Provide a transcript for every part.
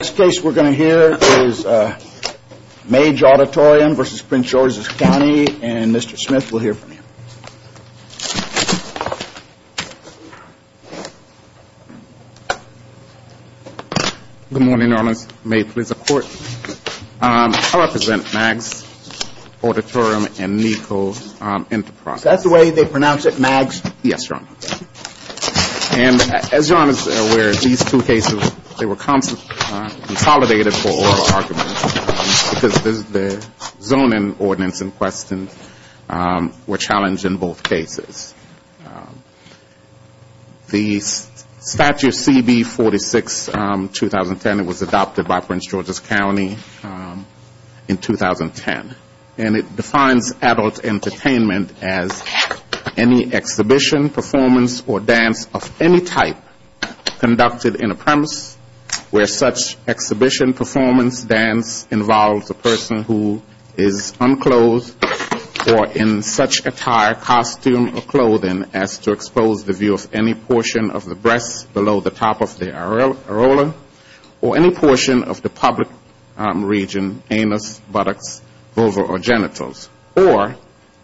Next case we're going to hear is Maage Auditorium v. Prince George's County, and Mr. Smith will hear from him. Good morning, Your Honor. May it please the Court. I represent Maags Auditorium and Neco Enterprise. Is that the way they pronounce it, Maags? Yes, Your Honor. And as Your Honor is aware, these two cases, they were consolidated for oral arguments because the zoning ordinance in question were challenged in both cases. The Statute CB-46-2010, it was adopted by Prince George's County in 2010, and it defines adult entertainment as any exhibition, performance, or dance of any type conducted in a premise where such exhibition, performance, dance involves a person who is unclothed or in such attire, costume, or clothing. As to expose the view of any portion of the breasts below the top of the arola, or any portion of the public region, anus, buttocks, vulva, or genitals, or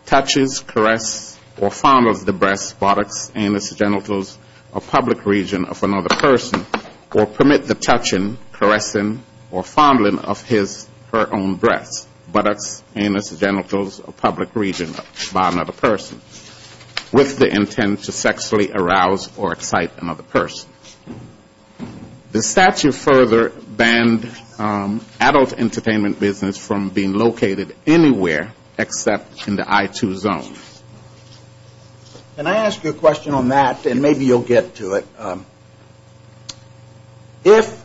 touches, caresses, or fondles the breasts, buttocks, anus, genitals, or public region of another person, or permit the touching, caressing, or fondling of his or her own breasts, buttocks, anus, genitals, or public region by another person. With the intent to sexually arouse or excite another person. The statute further banned adult entertainment business from being located anywhere except in the I-2 zone. Can I ask you a question on that, and maybe you'll get to it. If,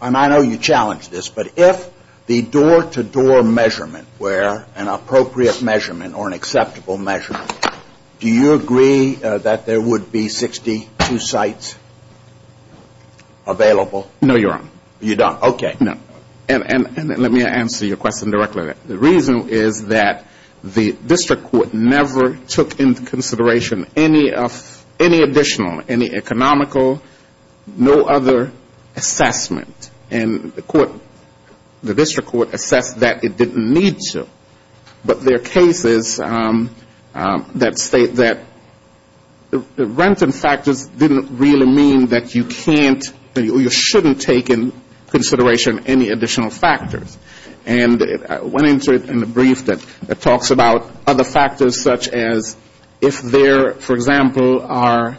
and I know you challenged this, but if the door-to-door measurement were an appropriate measurement or an acceptable measurement, do you agree that there would be 62 sites available? No, Your Honor. You don't. Okay. And let me answer your question directly. The reason is that the district court never took into consideration any additional, any economical, no other assessment, and the court, the district court assessed that it didn't need to. But there are cases that state that the renting factors didn't really mean that you can't or you shouldn't take into consideration any additional factors. And I went into it in the brief that talks about other factors such as if there, for example, are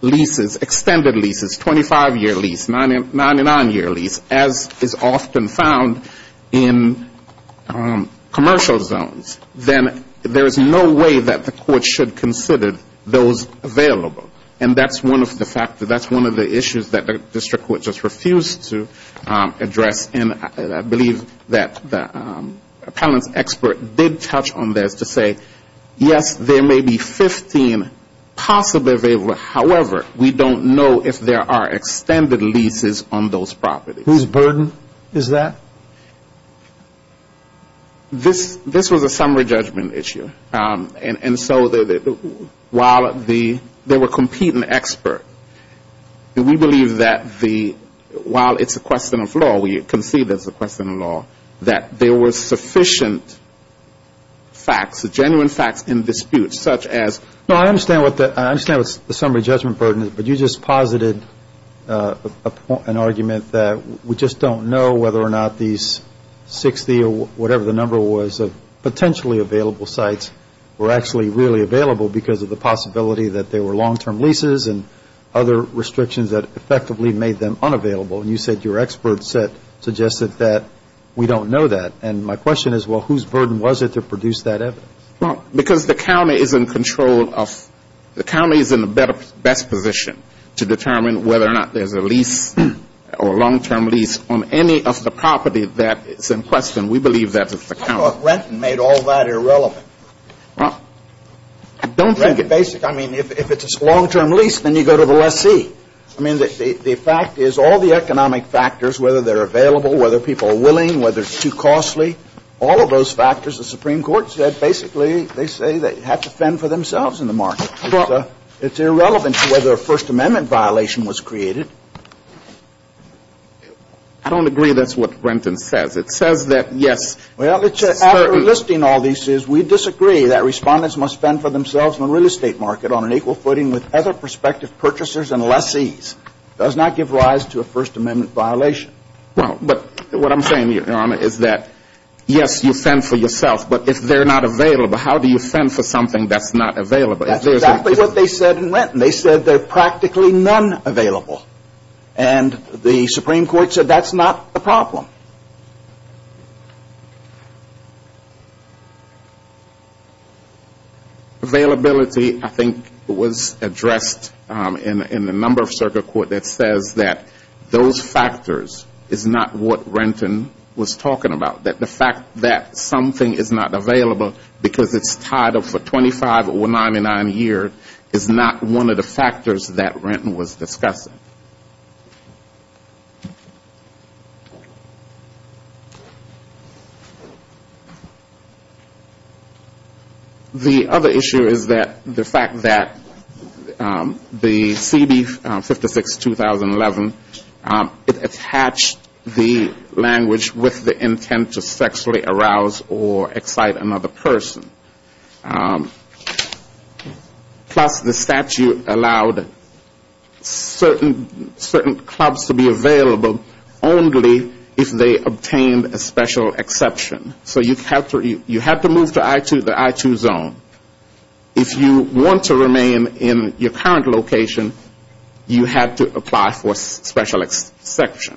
leases, extended leases, 25-year lease, 99-year lease, as is often found in commercial leases. Then there is no way that the court should consider those available. And that's one of the factors, that's one of the issues that the district court just refused to address. And I believe that the appellant's expert did touch on this to say, yes, there may be 15 possibly available. However, we don't know if there are extended leases on those properties. Whose burden is that? This was a summary judgment issue. And so while they were competing expert, we believe that the, while it's a question of law, we concede it's a question of law, that there were sufficient facts, genuine facts in dispute such as. No, I understand what the summary judgment burden is. But you just posited an argument that we just don't know whether or not these 60 or whatever the number was of potentially available sites were actually really available because of the possibility that there were long-term leases and other restrictions that effectively made them unavailable. And you said your expert suggested that we don't know that. And my question is, well, whose burden was it to produce that evidence? Well, because the county is in control of, the county is in the best position to determine whether or not there's a lease or a long-term lease on any of the property that's in question. We believe that's the county. I don't know if Renton made all that irrelevant. Well, I don't think it. Well, I think it's basically, I mean, if it's a long-term lease, then you go to the lessee. I mean, the fact is all the economic factors, whether they're available, whether people are willing, whether it's too costly, all of those factors, the Supreme Court said basically they say they have to fend for themselves in the market. It's irrelevant to whether a First Amendment violation was created. I don't agree that's what Renton says. It says that, yes, certain — with other prospective purchasers and lessees does not give rise to a First Amendment violation. Well, but what I'm saying, Your Honor, is that, yes, you fend for yourself, but if they're not available, how do you fend for something that's not available? That's exactly what they said in Renton. They said there are practically none available. And the Supreme Court said that's not the problem. Availability, I think, was addressed in the number of circuit court that says that those factors is not what Renton was talking about, that the fact that something is not available because it's tied up for 25 or 99 years is not one of the factors that Renton was discussing. The other issue is that the fact that the CB-56-2011, it attached the language with the intent to sexually arouse or excite another person. Plus, the statute allowed certain clubs to be available only if they obtained a special exception. So you have to move to the I-2 zone. If you want to remain in your current location, you have to apply for special exception.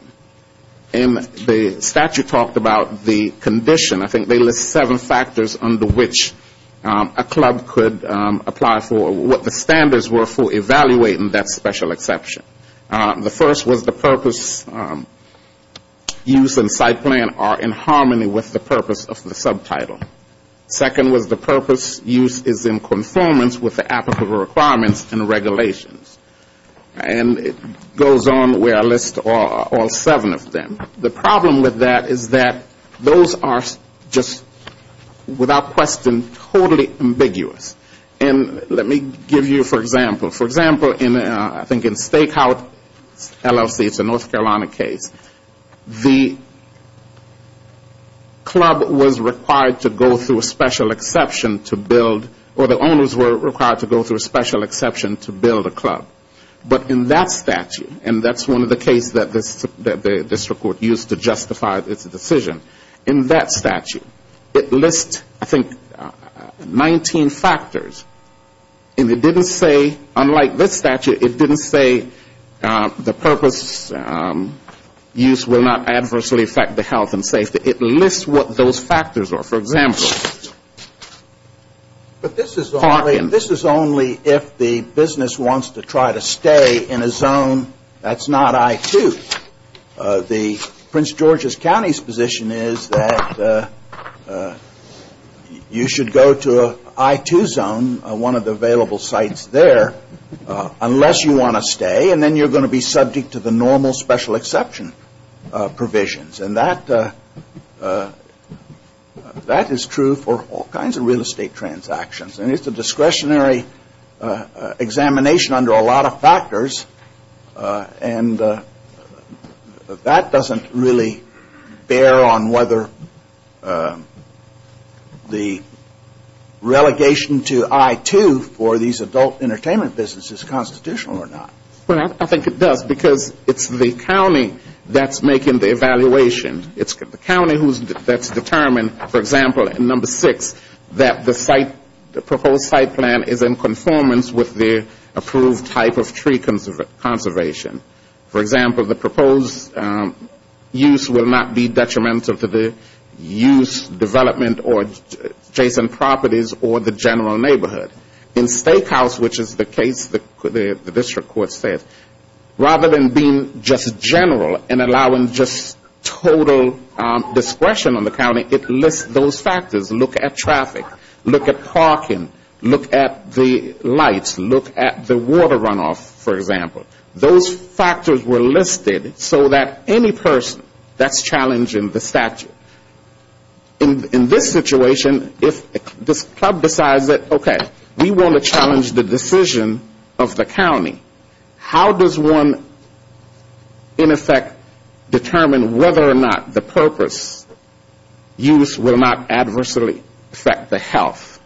And the statute talked about the condition. I think they list seven factors under which a club could apply for, what the standards were for evaluating that special exception. The first was the purpose, use and site plan are in harmony with the purpose of the subtitle. Second was the purpose, use is in conformance with the applicable requirements and regulations. And it goes on where I list all seven of them. The problem with that is that those are just, without question, totally ambiguous. And let me give you, for example, for example, I think in Stakeout LLC, it's a North Carolina case, the club was required to go to a club. Or the owners were required to go through a special exception to build a club. But in that statute, and that's one of the cases that the district court used to justify its decision. In that statute, it lists, I think, 19 factors. And it didn't say, unlike this statute, it didn't say the purpose, use will not adversely affect the health and safety. It lists what those factors are. For example, this is only if the business wants to try to stay in a zone that's not I-2. The Prince George's County's position is that you should go to I-2 zone, one of the available sites there, unless you want to stay, and then you're going to be subject to the normal special exception provisions. And that is true for all kinds of real estate transactions. And it's a discretionary examination under a lot of factors. And that doesn't really bear on whether the relegation to I-2 for these adult entertainment businesses is constitutional or not. Well, I think it does, because it's the county that's making the evaluation. It's the county that's determined, for example, in number six, that the site, the proposed site plan is in conformance with the approved type of tree conservation. For example, the proposed use will not be detrimental to the use, development, or adjacent properties or the general neighborhood. In Steakhouse, which is the case the district court says, rather than being just general and allowing just total discretion on the county, it lists those factors. Look at traffic, look at parking, look at the lights, look at the water runoff, for example. Those factors were listed so that any person that's challenging the statute. In this situation, if this club decides that, okay, we want to challenge the decision of the county, how does one, in effect, determine whether or not the purpose use will not adversely affect the health,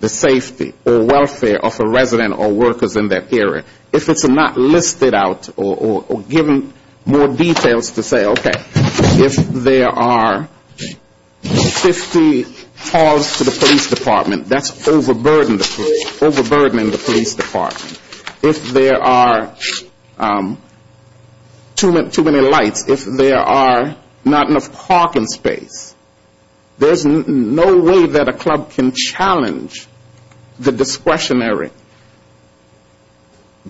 the safety, or welfare of a resident or workers in that area? If it's not listed out or given more details to say, okay, if there are certain factors that are in effect, how does one determine whether or not the purpose use will not adversely affect the health, the safety, or welfare of a resident or workers in that area? If there are 50 calls to the police department, that's overburdening the police department. If there are too many lights, if there are not enough parking space, there's no way that a club can challenge the discretionary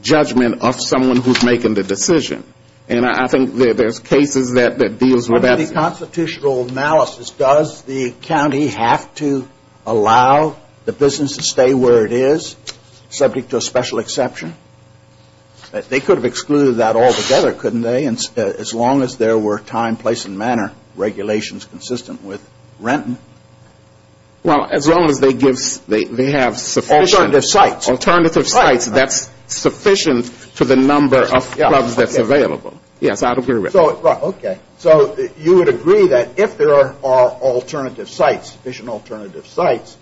judgment of someone who's making the decision. And I think there's cases that deals with that. Under the constitutional analysis, does the county have to allow the business to stay where it is, subject to a special exception? They could have excluded that altogether, couldn't they, as long as there were time, place, and manner regulations consistent with Renton? Well, as long as they have sufficient alternative sites that's sufficient to the number of clubs that's available. Yes, I would agree with that. Okay, so you would agree that if there are alternative sites, sufficient alternative sites,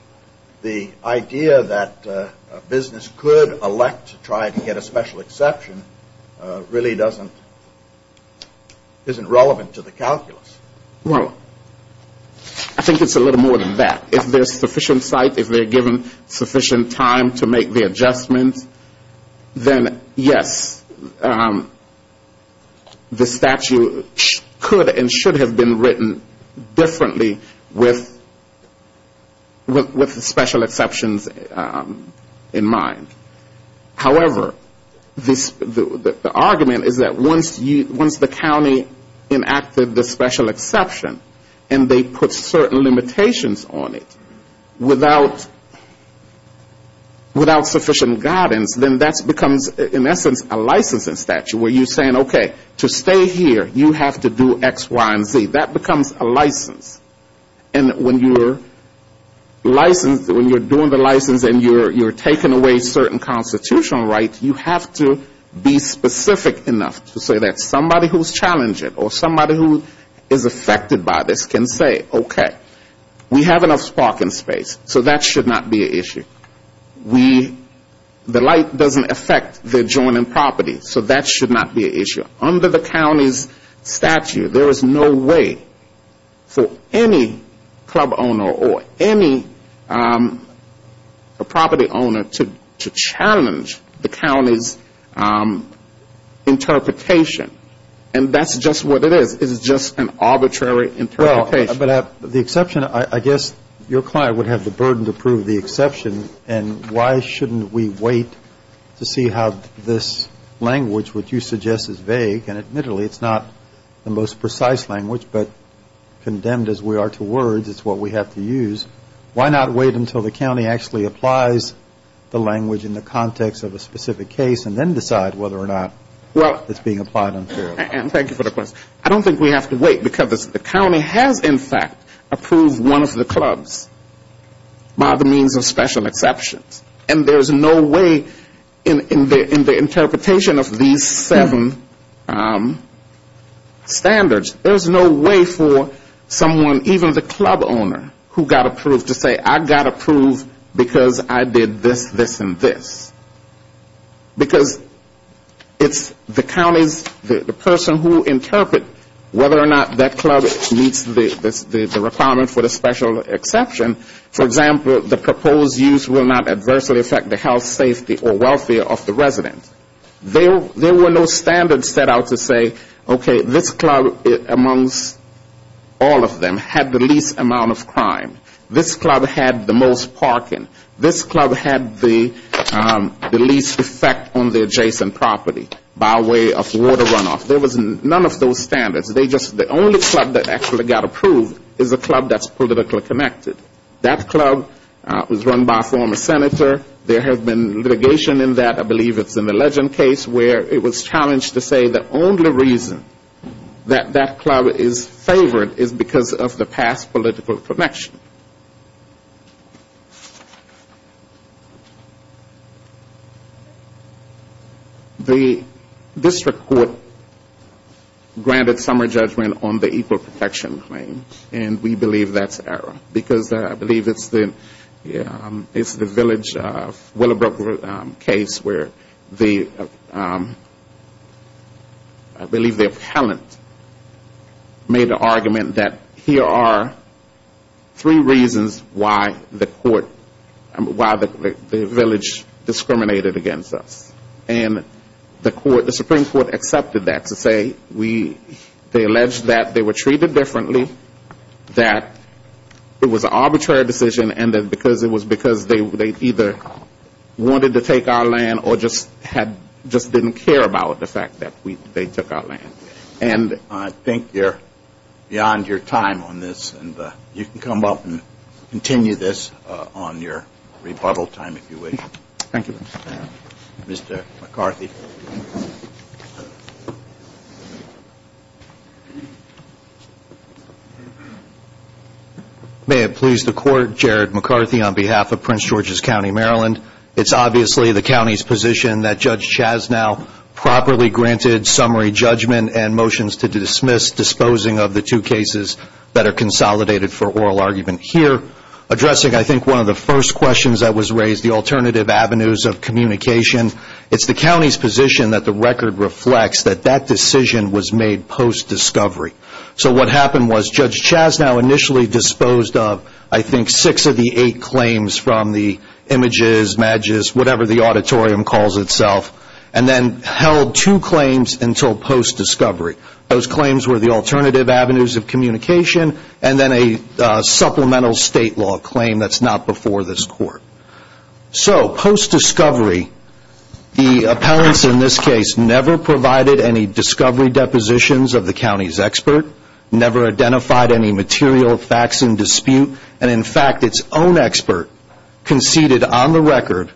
the idea that a business could elect to try to get a special exception really doesn't, isn't relevant to the calculus. Well, I think it's a little more than that. If there's sufficient sites, if they're given sufficient time to make the adjustments, then yes, I would agree with that. The statute could and should have been written differently with special exceptions in mind. However, the argument is that once the county enacted the special exception, and they put certain limitations on it, without sufficient guidance, then that becomes, in essence, a licensing statute. Where you're saying, okay, to stay here, you have to do X, Y, and Z. That becomes a license. And when you're doing the license and you're taking away certain constitutional rights, you have to be specific enough to say that somebody who's challenging or somebody who is affected by this can say, okay, we have enough parking space, so that should not be an issue. We, the light doesn't affect the adjoining property, so that should not be an issue. Under the county's statute, there is no way for any club owner or any property owner to challenge the county's interpretation. And that's just what it is. It's just an arbitrary interpretation. Well, but the exception, I guess your client would have the burden to prove the exception, and why shouldn't we wait to see how this language, which you suggest is vague, and admittedly, it's not the most precise language, but condemned as we are to words, it's what we have to use. Why not wait until the county actually applies the language in the context of a specific case and then decide whether or not it's being applied unfairly? I don't think we have to wait, because the county has in fact approved one of the clubs by the means of special exceptions. And there's no way in the interpretation of these seven standards, there's no way for someone, even the club owner, who got approved to say, I got approved because I did this, this, and this. Because it's the county's, the person who interpret whether or not that club meets the requirement for the special exception. For example, the proposed use will not adversely affect the health, safety, or welfare of the resident. There were no standards set out to say, okay, this club amongst all of them had the least amount of crime. This club had the most parking. This club had the least effect on the adjacent property by way of water runoff. There was none of those standards. The only club that actually got approved is a club that's politically connected. That club was run by a former senator. There has been litigation in that, I believe it's an alleged case, where it was challenged to say the only reason that that club is favored is because of the past political connection. The district court granted summary judgment on the equal protection claim, and we believe that's error. Because I believe it's the village of Willowbrook case where the, I believe the appellant made the argument that here are three reasons why the village discriminated against us. And the Supreme Court accepted that to say, they alleged that they were treated differently, that it was not fair, that it was not fair. That it was an arbitrary decision, and that because it was because they either wanted to take our land or just didn't care about the fact that they took our land. I think you're beyond your time on this, and you can come up and continue this on your rebuttal time if you wish. Thank you. Thank you. I think six of the eight claims from the images, badges, whatever the auditorium calls itself, and then held two claims until post-discovery. Those claims were the alternative avenues of communication, and then a supplemental state law claim that's not before this court. So, post-discovery, the appellants in this case never provided any discovery depositions of the county's expert, never identified any material facts in dispute. And in fact, its own expert conceded on the record,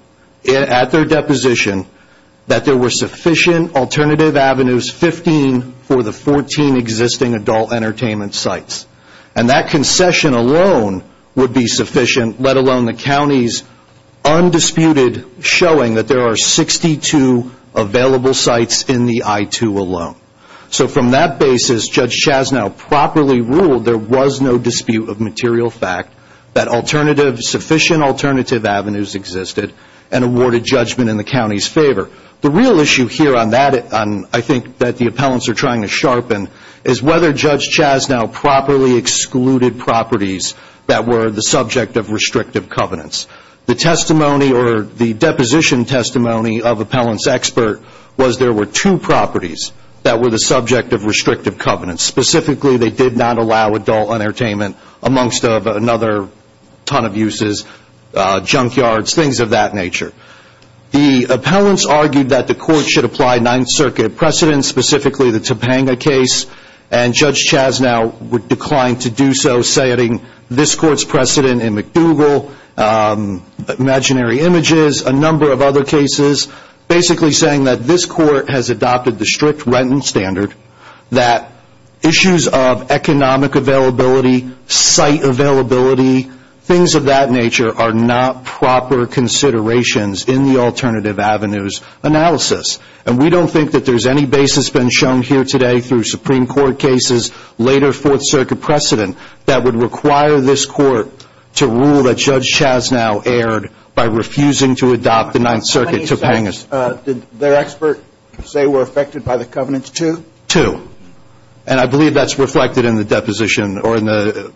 at their deposition, that there were sufficient alternative avenues, 15 for the 14 existing adult entertainment sites. And that concession alone would be sufficient, let alone the county's undisputed showing that there are 62 available sites in the I-2 alone. So from that basis, Judge Chasnow properly ruled there was no dispute of material fact, that alternative, sufficient alternative avenues existed, and awarded judgment in the county's favor. The real issue here on that, I think that the appellants are trying to sharpen, is whether Judge Chasnow properly excluded properties that were the subject of restrictive covenants. The testimony or the deposition testimony of appellant's expert was there were two properties that were the subject of restrictive covenants. Specifically, they did not allow adult entertainment amongst another ton of uses, junkyards, things of that nature. The appellants argued that the court should apply Ninth Circuit precedents, specifically the Topanga case. And Judge Chasnow would decline to do so, citing this court's precedent in McDougal, imaginary images, a number of other cases. Basically saying that this court has adopted the strict Renton Standard, that issues of economic availability, site availability, things of that nature are not proper considerations in the alternative avenues analysis. And we don't think that there's any basis been shown here today through Supreme Court cases, later Fourth Circuit precedent, that would require this court to rule that Judge Chasnow erred by refusing to adopt the Ninth Circuit Topanga case. Did their expert say were affected by the covenants too? Two. And I believe that's reflected in the deposition or in the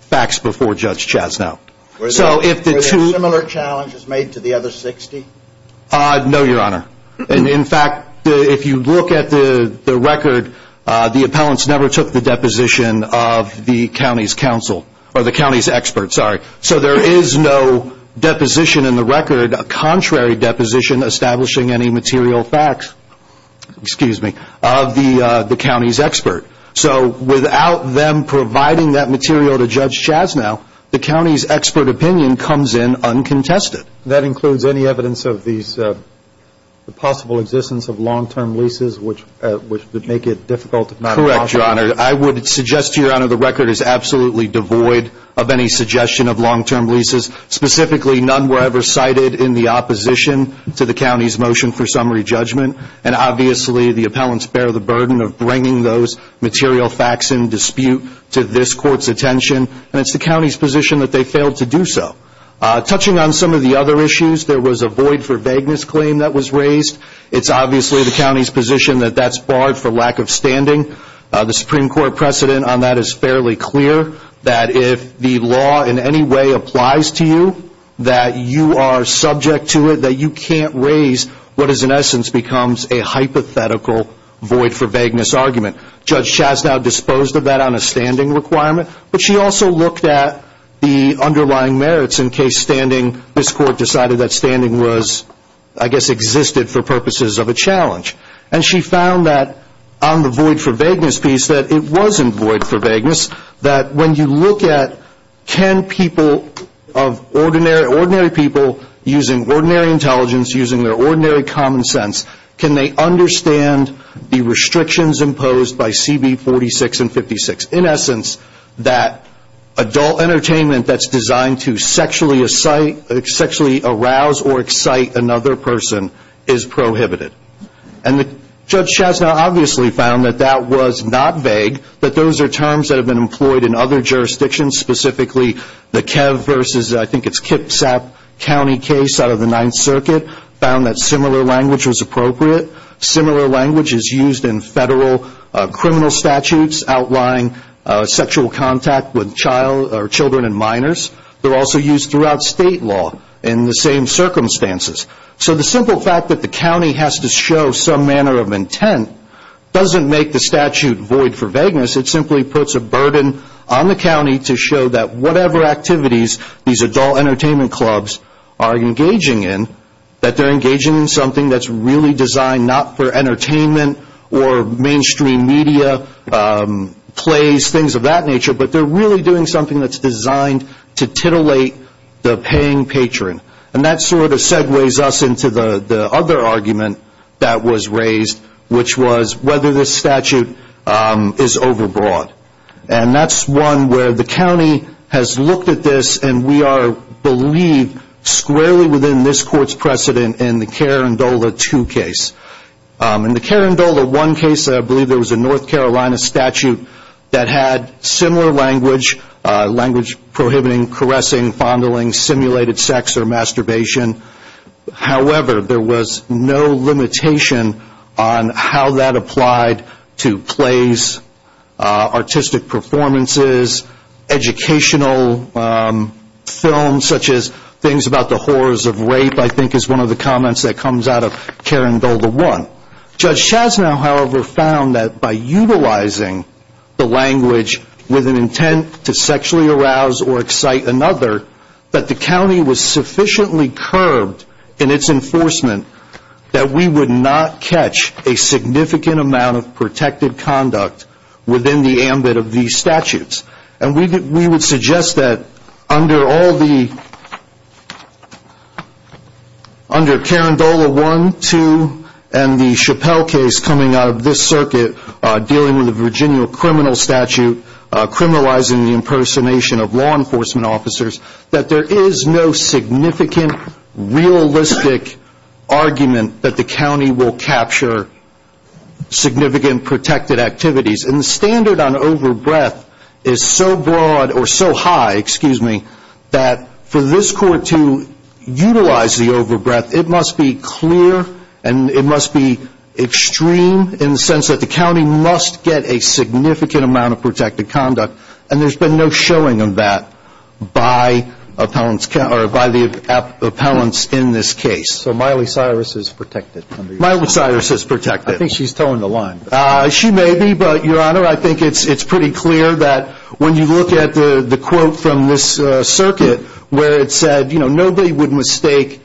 facts before Judge Chasnow. Were there similar challenges made to the other 60? No, Your Honor. And in fact, if you look at the record, the appellants never took the deposition of the county's counsel or the county's expert, sorry. So there is no deposition in the record, a contrary deposition establishing any material facts, excuse me, of the county's expert. So without them providing that material to Judge Chasnow, the county's expert opinion comes in uncontested. That includes any evidence of these possible existence of long-term leases, which would make it difficult if not impossible. No, Your Honor. I would suggest, Your Honor, the record is absolutely devoid of any suggestion of long-term leases. Specifically, none were ever cited in the opposition to the county's motion for summary judgment. And obviously, the appellants bear the burden of bringing those material facts in dispute to this court's attention. And it's the county's position that they failed to do so. Touching on some of the other issues, there was a void for vagueness claim that was raised. It's obviously the county's position that that's barred for lack of standing. The Supreme Court precedent on that is fairly clear, that if the law in any way applies to you, that you are subject to it, that you can't raise what is in essence becomes a hypothetical void for vagueness argument. Judge Chasnow disposed of that on a standing requirement, but she also looked at the underlying merits in case standing, this court decided that standing was, I guess, existed for purposes of a challenge. And she found that on the void for vagueness piece, that it wasn't void for vagueness, that when you look at can people of ordinary, ordinary people using ordinary intelligence, using their ordinary common sense, can they understand the restrictions imposed by CB 46 and 56? In essence, that adult entertainment that's designed to sexually excite, sexually arouse or excite another person is prohibited. And Judge Chasnow obviously found that that was not vague, that those are terms that have been employed in other jurisdictions, specifically the Kev versus, I think it's Kipsap County case out of the Ninth Circuit, found that similar language was appropriate. Similar language is used in federal criminal statutes, outlying sexual contact with child or children and minors. They're also used throughout state law in the same circumstances. So the simple fact that the county has to show some manner of intent doesn't make the statute void for vagueness, it simply puts a burden on the county to show that whatever activities these adult entertainment clubs are engaging in, that they're engaging in something that's really designed not for entertainment or mainstream media, plays, things of that nature, but they're really doing something that's designed to titillate the paying patron. And that sort of segues us into the other argument that was raised, which was whether this statute is overbroad. And that's one where the county has looked at this, and we are believed squarely within this Court's precedent in the Carindola 2 case. In the Carindola 1 case, I believe there was a North Carolina statute that had similar language, language prohibiting caressing, fondling, simulated sex or masturbation. However, there was no limitation on how that applied to plays, artistic performances, educational films, such as things about the horrors of rape, I think is one of the comments that comes out of Carindola 1. Judge Chasnow, however, found that by utilizing the language with an intent to sexually arouse or excite another, that the county was sufficiently curbed in its enforcement that we would not catch a significant amount of protected conduct within the ambit of these statutes. And we would suggest that under all the, under Carindola 1, 2, and the Chappelle case coming out of this circuit, dealing with the Virginia criminal statute, criminalizing the impersonation of law enforcement officers, that there is no significant realistic argument that the county will capture significant protected activities. And the standard on over-breath is so broad or so high, excuse me, that for this court to utilize the over-breath, it must be clear and it must be extreme in the sense that the county must get a significant amount of protected conduct. And there's been no showing of that by appellants, or by the appellants in this case. So Miley Cyrus is protected. I think she's toeing the line. She may be, but, Your Honor, I think it's pretty clear that when you look at the quote from this circuit where it said, you know, nobody would mistake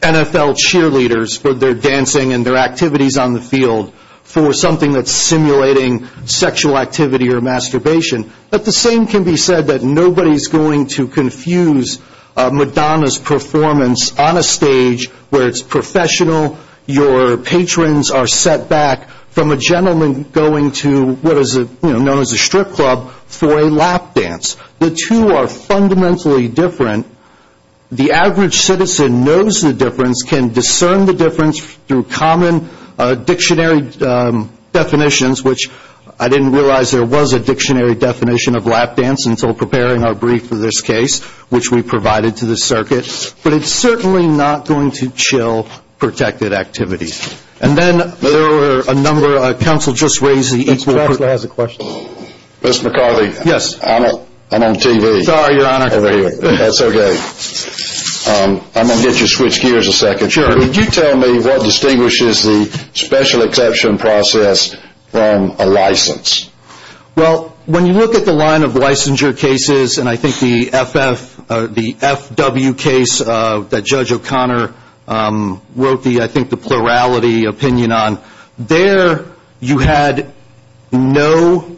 NFL cheerleaders for their dancing and their activities on the field for something that's simulating sexual activity or masturbation. But the same can be said that nobody's going to confuse Madonna's performance on a stage where it's professional, your patrons are set back from a gentleman going to what is known as a strip club for a lap dance. The two are fundamentally different. The average citizen knows the difference, can discern the difference through common dictionary definitions, which I didn't realize there was a dictionary definition of lap dance until preparing our brief for this case, which we provided to the circuit. But it's certainly not going to chill protected activities. And then there were a number, counsel just raised the equal. Mr. McCarthy, I'm on TV. I'm going to get you to switch gears a second. Could you tell me what distinguishes the special exception process from a license? Well, when you look at the line of licensure cases, and I think the FW case that Judge O'Connor wrote the, I think, the plurality opinion on, there you had no,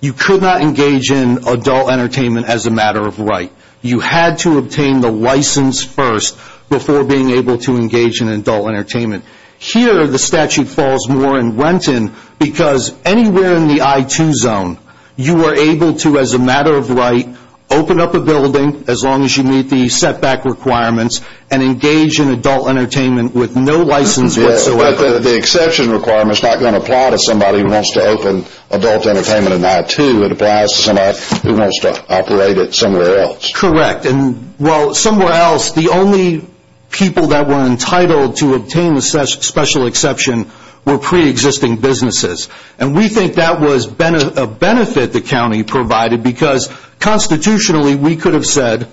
you could not engage in adult entertainment as a matter of right. You had to obtain the license first before being able to engage in adult entertainment. Here the statute falls more in Renton because anywhere in the I-2 zone you are able to, as a matter of right, open up a building as long as you meet the setback requirements and engage in adult entertainment with no license whatsoever. But the exception requirement is not going to apply to somebody who wants to open adult entertainment in I-2. It applies to somebody who wants to operate it somewhere else. Correct. And, well, somewhere else, the only people that were entitled to obtain the special exception were pre-existing businesses. And we think that was a benefit the county provided because constitutionally we could have said,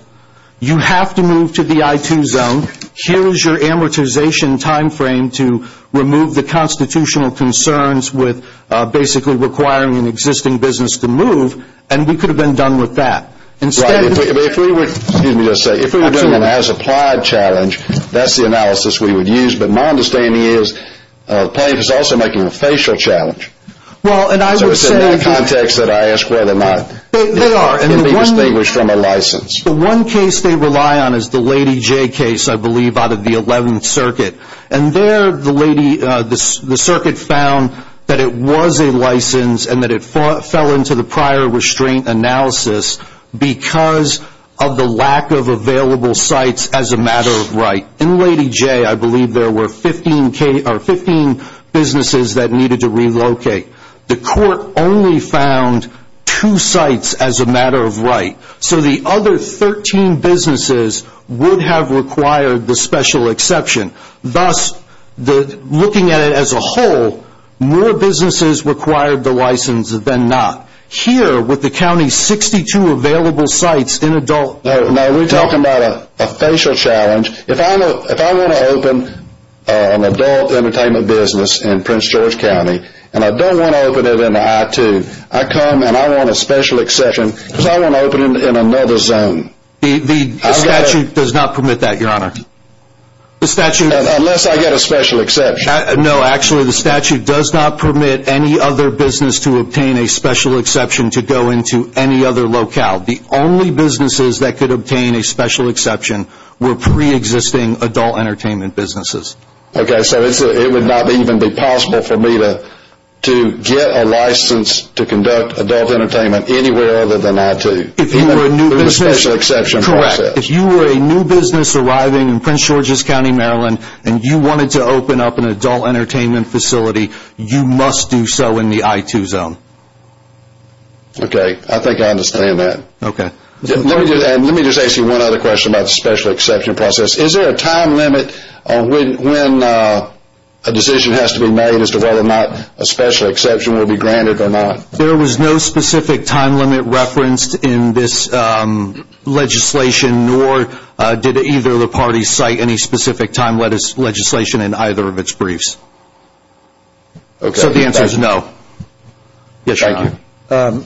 you have to move to the I-2 zone. Here is your amortization time frame to remove the constitutional concerns with basically requiring an existing business class. You have to move and we could have been done with that. If we were doing an as-applied challenge, that's the analysis we would use. But my understanding is the plaintiff is also making a facial challenge. So it's in that context that I ask whether or not it can be distinguished from a license. The one case they rely on is the Lady J case, I believe, out of the 11th Circuit. And there the lady, the circuit found that it was a license and that it fell into the prior restraint analysis because of the lack of available sites as a matter of right. In Lady J, I believe there were 15 businesses that needed to relocate. The court only found two sites as a matter of right. So the other 13 businesses would have required the special exception. Thus, looking at it as a whole, more businesses required the license than not. Here, with the county's 62 available sites in adult... No, we're talking about a facial challenge. If I want to open an adult entertainment business in Prince George County and I don't want to open it in the I-2, I come and I want a special exception because I want to open it in another zone. The statute does not permit that, Your Honor. Unless I get a special exception. No, actually the statute does not permit any other business to obtain a special exception to go into any other locale. The only businesses that could obtain a special exception were pre-existing adult entertainment businesses. Okay, so it would not even be possible for me to get a license to conduct adult entertainment anywhere other than I-2. Correct. If you were a new business arriving in Prince George's County, Maryland, and you wanted to open up an adult entertainment facility, you must do so in the I-2 zone. Okay, I think I understand that. Let me just ask you one other question about the special exception process. Is there a time limit on when a decision has to be made as to whether or not a special exception will be granted or not? There was no specific time limit referenced in this legislation, nor did either of the parties cite any specific time legislation in either of its briefs. So the answer is no. Yes, Your Honor.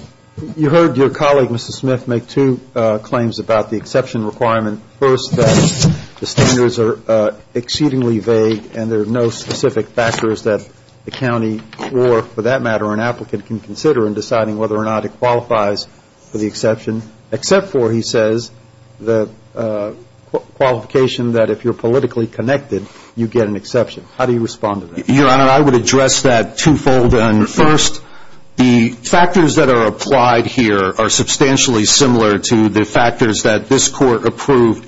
You heard your colleague, Mr. Smith, make two claims about the exception requirement. First, that the standards are exceedingly vague and there are no specific factors that the county or, for that matter, an applicant can consider in deciding whether or not it qualifies for the exception, except for, he says, the qualification that if you're politically connected, you get an exception. How do you respond to that? Your Honor, I would address that twofold. And first, the factors that are applied here are substantially similar to the factors that this Court approved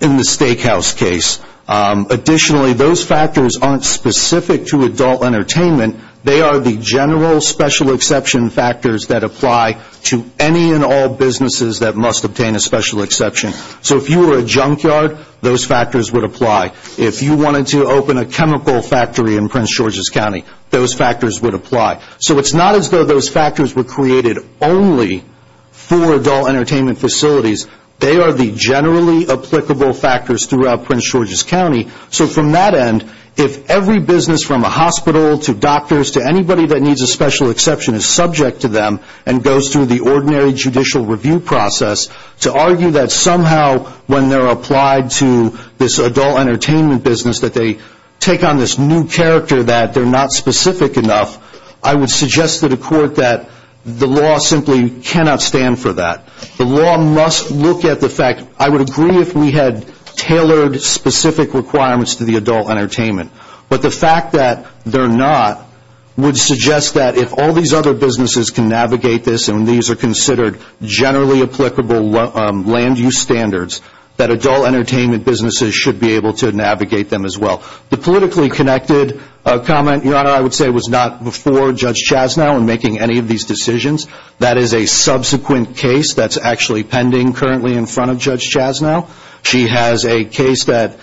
in the Steakhouse case. Additionally, those factors aren't specific to adult entertainment. They are the general special exception factors that apply to any and all businesses that must obtain a special exception. So if you were a junkyard, those factors would apply. If you wanted to open a chemical factory in Prince George's County, those factors would apply. So it's not as though those factors were created only for adult entertainment facilities. They are the generally applicable factors throughout Prince George's County. So from that end, if every business from a hospital to doctors to anybody that needs a special exception is subject to them and goes through the ordinary judicial review process, to argue that somehow when they're applied to this adult entertainment business that they take on this new character that they're not specific enough, I would suggest to the Court that the law simply cannot stand for that. The law must look at the fact. I would agree if we had tailored specific requirements to the adult entertainment. But the fact that they're not would suggest that if all these other businesses can navigate this and these are considered generally applicable land use standards, that adult entertainment businesses should be able to navigate them as well. The politically connected comment, Your Honor, I would say was not before Judge Chasnow in making any of these decisions. That is a subsequent case that's actually pending currently in front of Judge Chasnow. She has a case that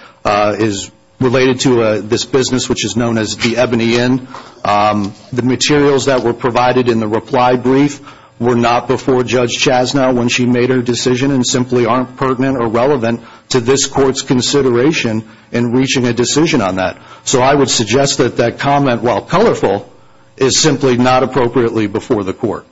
is related to this business which is known as the Ebony Inn. The materials that were provided in the reply brief were not before Judge Chasnow when she made her decision and simply aren't pertinent or relevant to this Court's consideration in reaching a decision on that. So I would suggest that that comment, while colorful, is simply not appropriately before the Court.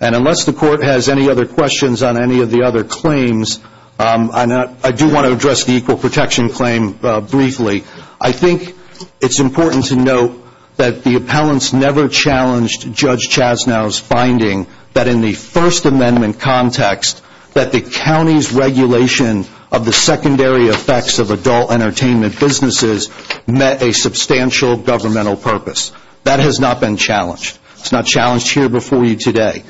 And unless the Court has any other questions on any of the other claims, I do want to address the equal protection claim briefly. I think it's important to note that the appellants never challenged Judge Chasnow's finding that in the First Amendment context, that the county's regulation of the secondary effects of adult entertainment businesses met a substantial governmental purpose. That has not been challenged. It's not challenged here before you today.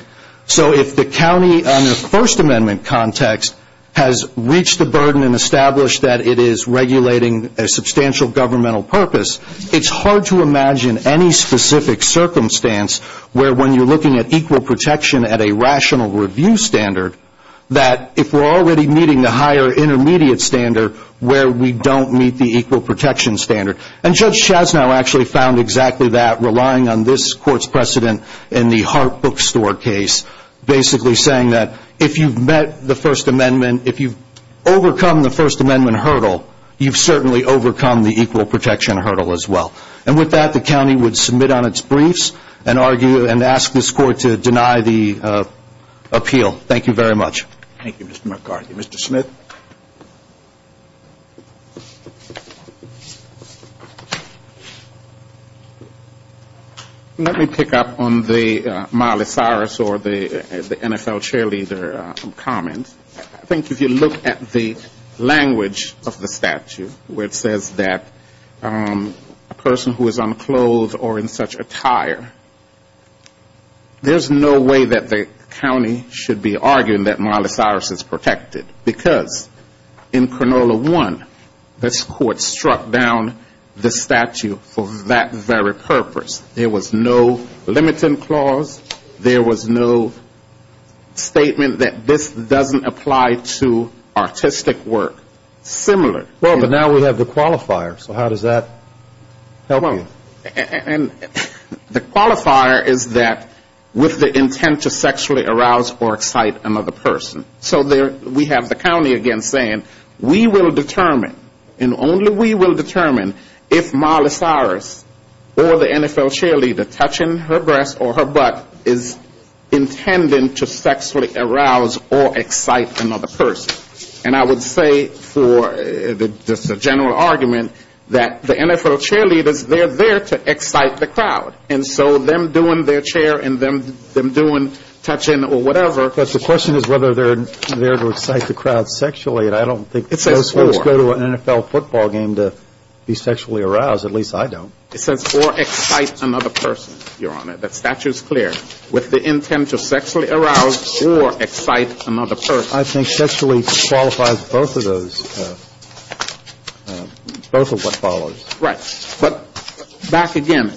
So if the county under First Amendment context has reached the burden and established that it is regulating a substantial governmental purpose, it's hard to imagine any specific circumstance where when you're looking at equal protection at a rational review standard, that if we're already meeting the higher intermediate standard where we don't meet the equal protection standard. And Judge Chasnow actually found exactly that, relying on this Court's precedent in the Hart Bookstore case, basically saying that if you've met the First Amendment, if you've overcome the First Amendment hurdle, you've certainly overcome the equal protection hurdle as well. And with that, the county would submit on its briefs and ask this Court to deny the appeal. Thank you very much. Let me pick up on the Miley Cyrus or the NFL cheerleader comment. I think if you look at the language of the statute where it says that a person who is unclothed or in such attire, there's no way that the county should be arguing that Miley Cyrus is protected. Because in Cronulla I, this Court struck down the statute for that very purpose. There was no limiting clause. There was no statement that this doesn't apply to artistic work. Similar. Well, but now we have the qualifier, so how does that help you? And the qualifier is that with the intent to sexually arouse or excite another person. So we have the county again saying, we will determine, and only we will determine, if Miley Cyrus or the NFL cheerleader touching her breast or her butt is intended to sexually arouse or excite another person. And I would say for just a general argument, that the NFL cheerleaders, they're there to excite another person. They're there to excite the crowd. And so them doing their chair and them doing touching or whatever. But the question is whether they're there to excite the crowd sexually. And I don't think most folks go to an NFL football game to be sexually aroused. At least I don't. It says or excite another person, Your Honor. That statute is clear. With the intent to sexually arouse or excite another person. I think sexually qualifies both of those, both of what follows. Right. But back again,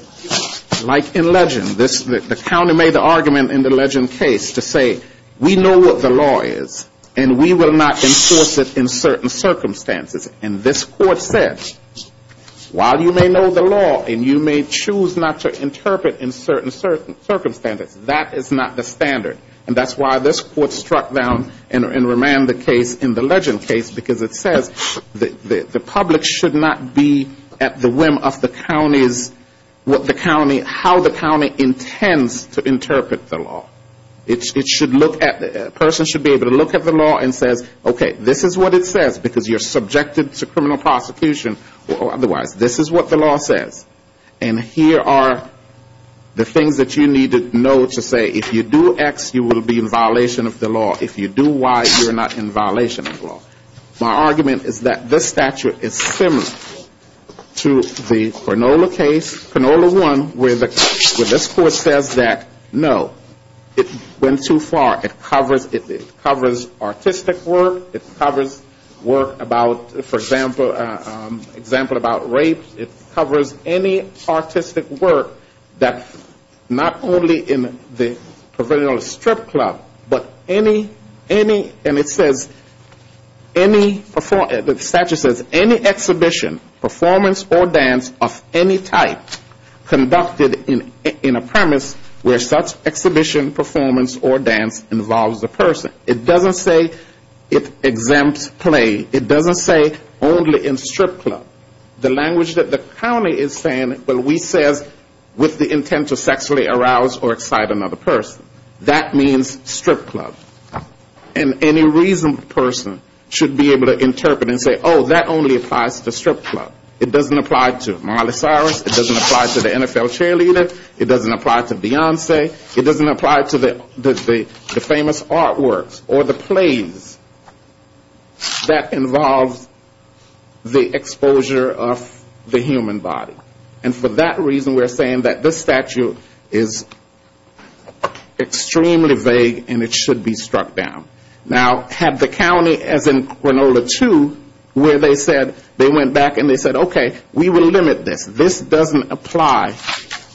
like in legend, the county made the argument in the legend case to say, we know what the law is, and we will not enforce it in certain circumstances. And this court said, while you may know the law and you may choose not to interpret in certain circumstances, that is not the standard. And that's why this court struck down and remanded the case in the legend case, because it says the public should not be at the whim of the county's, what the county, how the county intends to interpret the law. It should look at, a person should be able to look at the law and says, okay, this is what it says, because you're subjected to criminal prosecution or otherwise. This is what the law says. And here are the things that you need to know to say, if you do X, you will be in violation of the law. If you do Y, you're not in violation of the law. My argument is that this statute is similar to the Canola case, Canola 1, where this court says that, no, it went too far. It covers artistic work. It covers work about, for example, example about rape. It covers any artistic work that, not only in the provisional strip club, but any, any, and it says, it covers any artistic work, any, the statute says, any exhibition, performance, or dance of any type conducted in a premise where such exhibition, performance, or dance involves a person. It doesn't say it exempts play. It doesn't say only in strip club. The language that the county is saying, well, we says with the intent to sexually arouse or excite another person. That means strip club. And any reasonable person should be able to interpret and say, oh, that only applies to strip club. It doesn't apply to Marley Cyrus. It doesn't apply to the NFL cheerleader. It doesn't apply to Beyonce. It doesn't apply to the famous artworks or the plays that involve the exposure of the human body. And for that reason, we're saying that this statute is extremely vague and it should be struck down. Now, had the county, as in Cronulla 2, where they said, they went back and they said, okay, we will limit this. This doesn't apply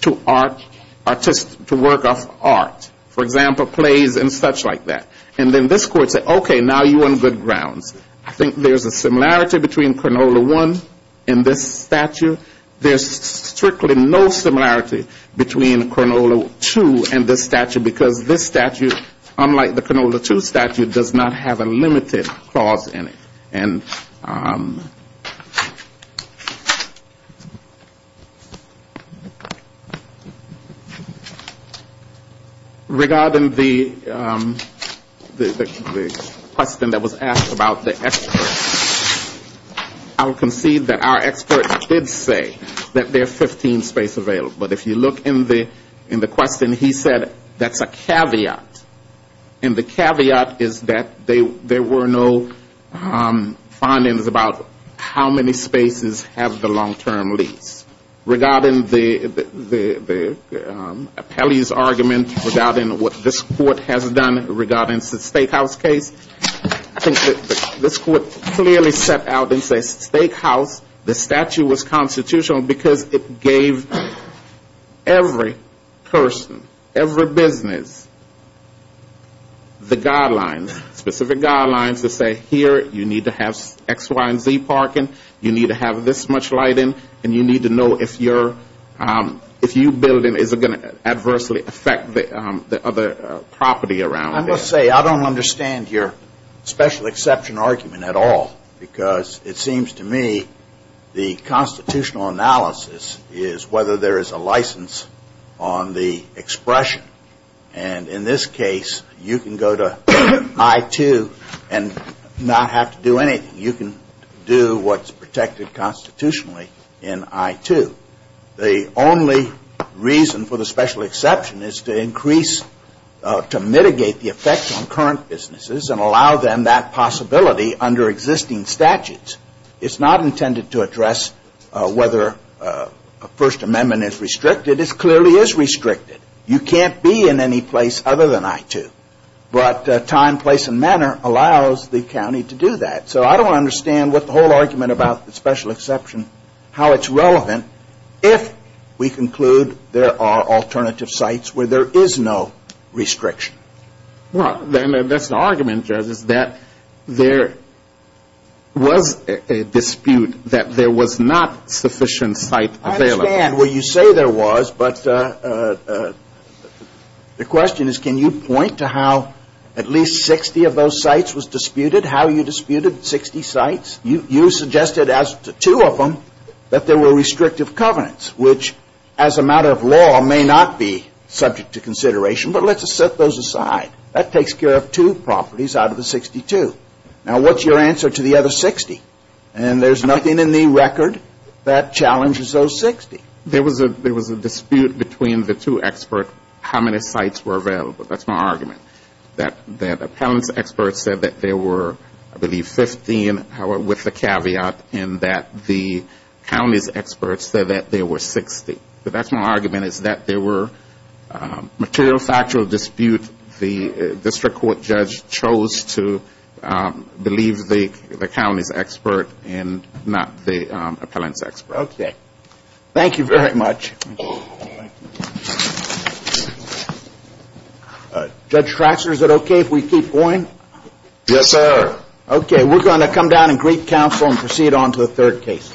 to art, to work of art. For example, plays and such like that. And then this court said, okay, now you're on good grounds. I think there's a similarity between Cronulla 1 and this statute. There's strictly no similarity between Cronulla 2 and this statute. Because this statute, unlike the Cronulla 2 statute, does not have a limited clause in it. And regarding the question that was asked about the experts, I will concede that our experts did say that this statute is vague. That there are 15 space available. But if you look in the question, he said that's a caveat. And the caveat is that there were no findings about how many spaces have the long-term lease. Regarding the appellee's argument regarding what this court has done regarding the steakhouse case, I think this court clearly set out and said steakhouse, the statute was constitutional because it gave every person, every business the guidelines. Specific guidelines that say here you need to have X, Y, and Z parking. You need to have this much lighting. And you need to know if your building is going to adversely affect the other property around there. I must say I don't understand your special exception argument at all. Because it seems to me the constitutional analysis is whether there is a license on the expression. And in this case, you can go to I-2 and not have to do anything. You can do what's protected constitutionally in I-2. The only reason for the special exception is to increase, to mitigate the effect on current businesses and allow them that possibility under existing statutes. It's not intended to address whether a First Amendment is restricted. It clearly is restricted. You can't be in any place other than I-2. But time, place, and manner allows the county to do that. So I don't understand what the whole argument about the special exception, how it's relevant if we conclude there are alternative sites where there is no restriction. Well, that's the argument, Judge, is that there was a dispute that there was not sufficient site available. I understand what you say there was, but the question is can you point to how at least 60 of those sites was disputed, how you disputed 60 sites? You suggested as to two of them that there were restrictive covenants, which as a matter of law may not be subject to consideration, but let's set those aside. That takes care of two properties out of the 62. Now, what's your answer to the other 60? And there's nothing in the record that challenges those 60. There was a dispute between the two experts, how many sites were available. That's my argument, that the appellant's experts said that there were, I believe, 15, with the caveat in that the county's experts said that there were 60. But that's my argument, is that there were material factual disputes. The district court judge chose to believe the county's expert and not the appellant's expert. Okay, thank you very much. Judge Traxler, is it okay if we keep going? Yes, sir. Okay, we're going to come down and greet counsel and proceed on to the third case.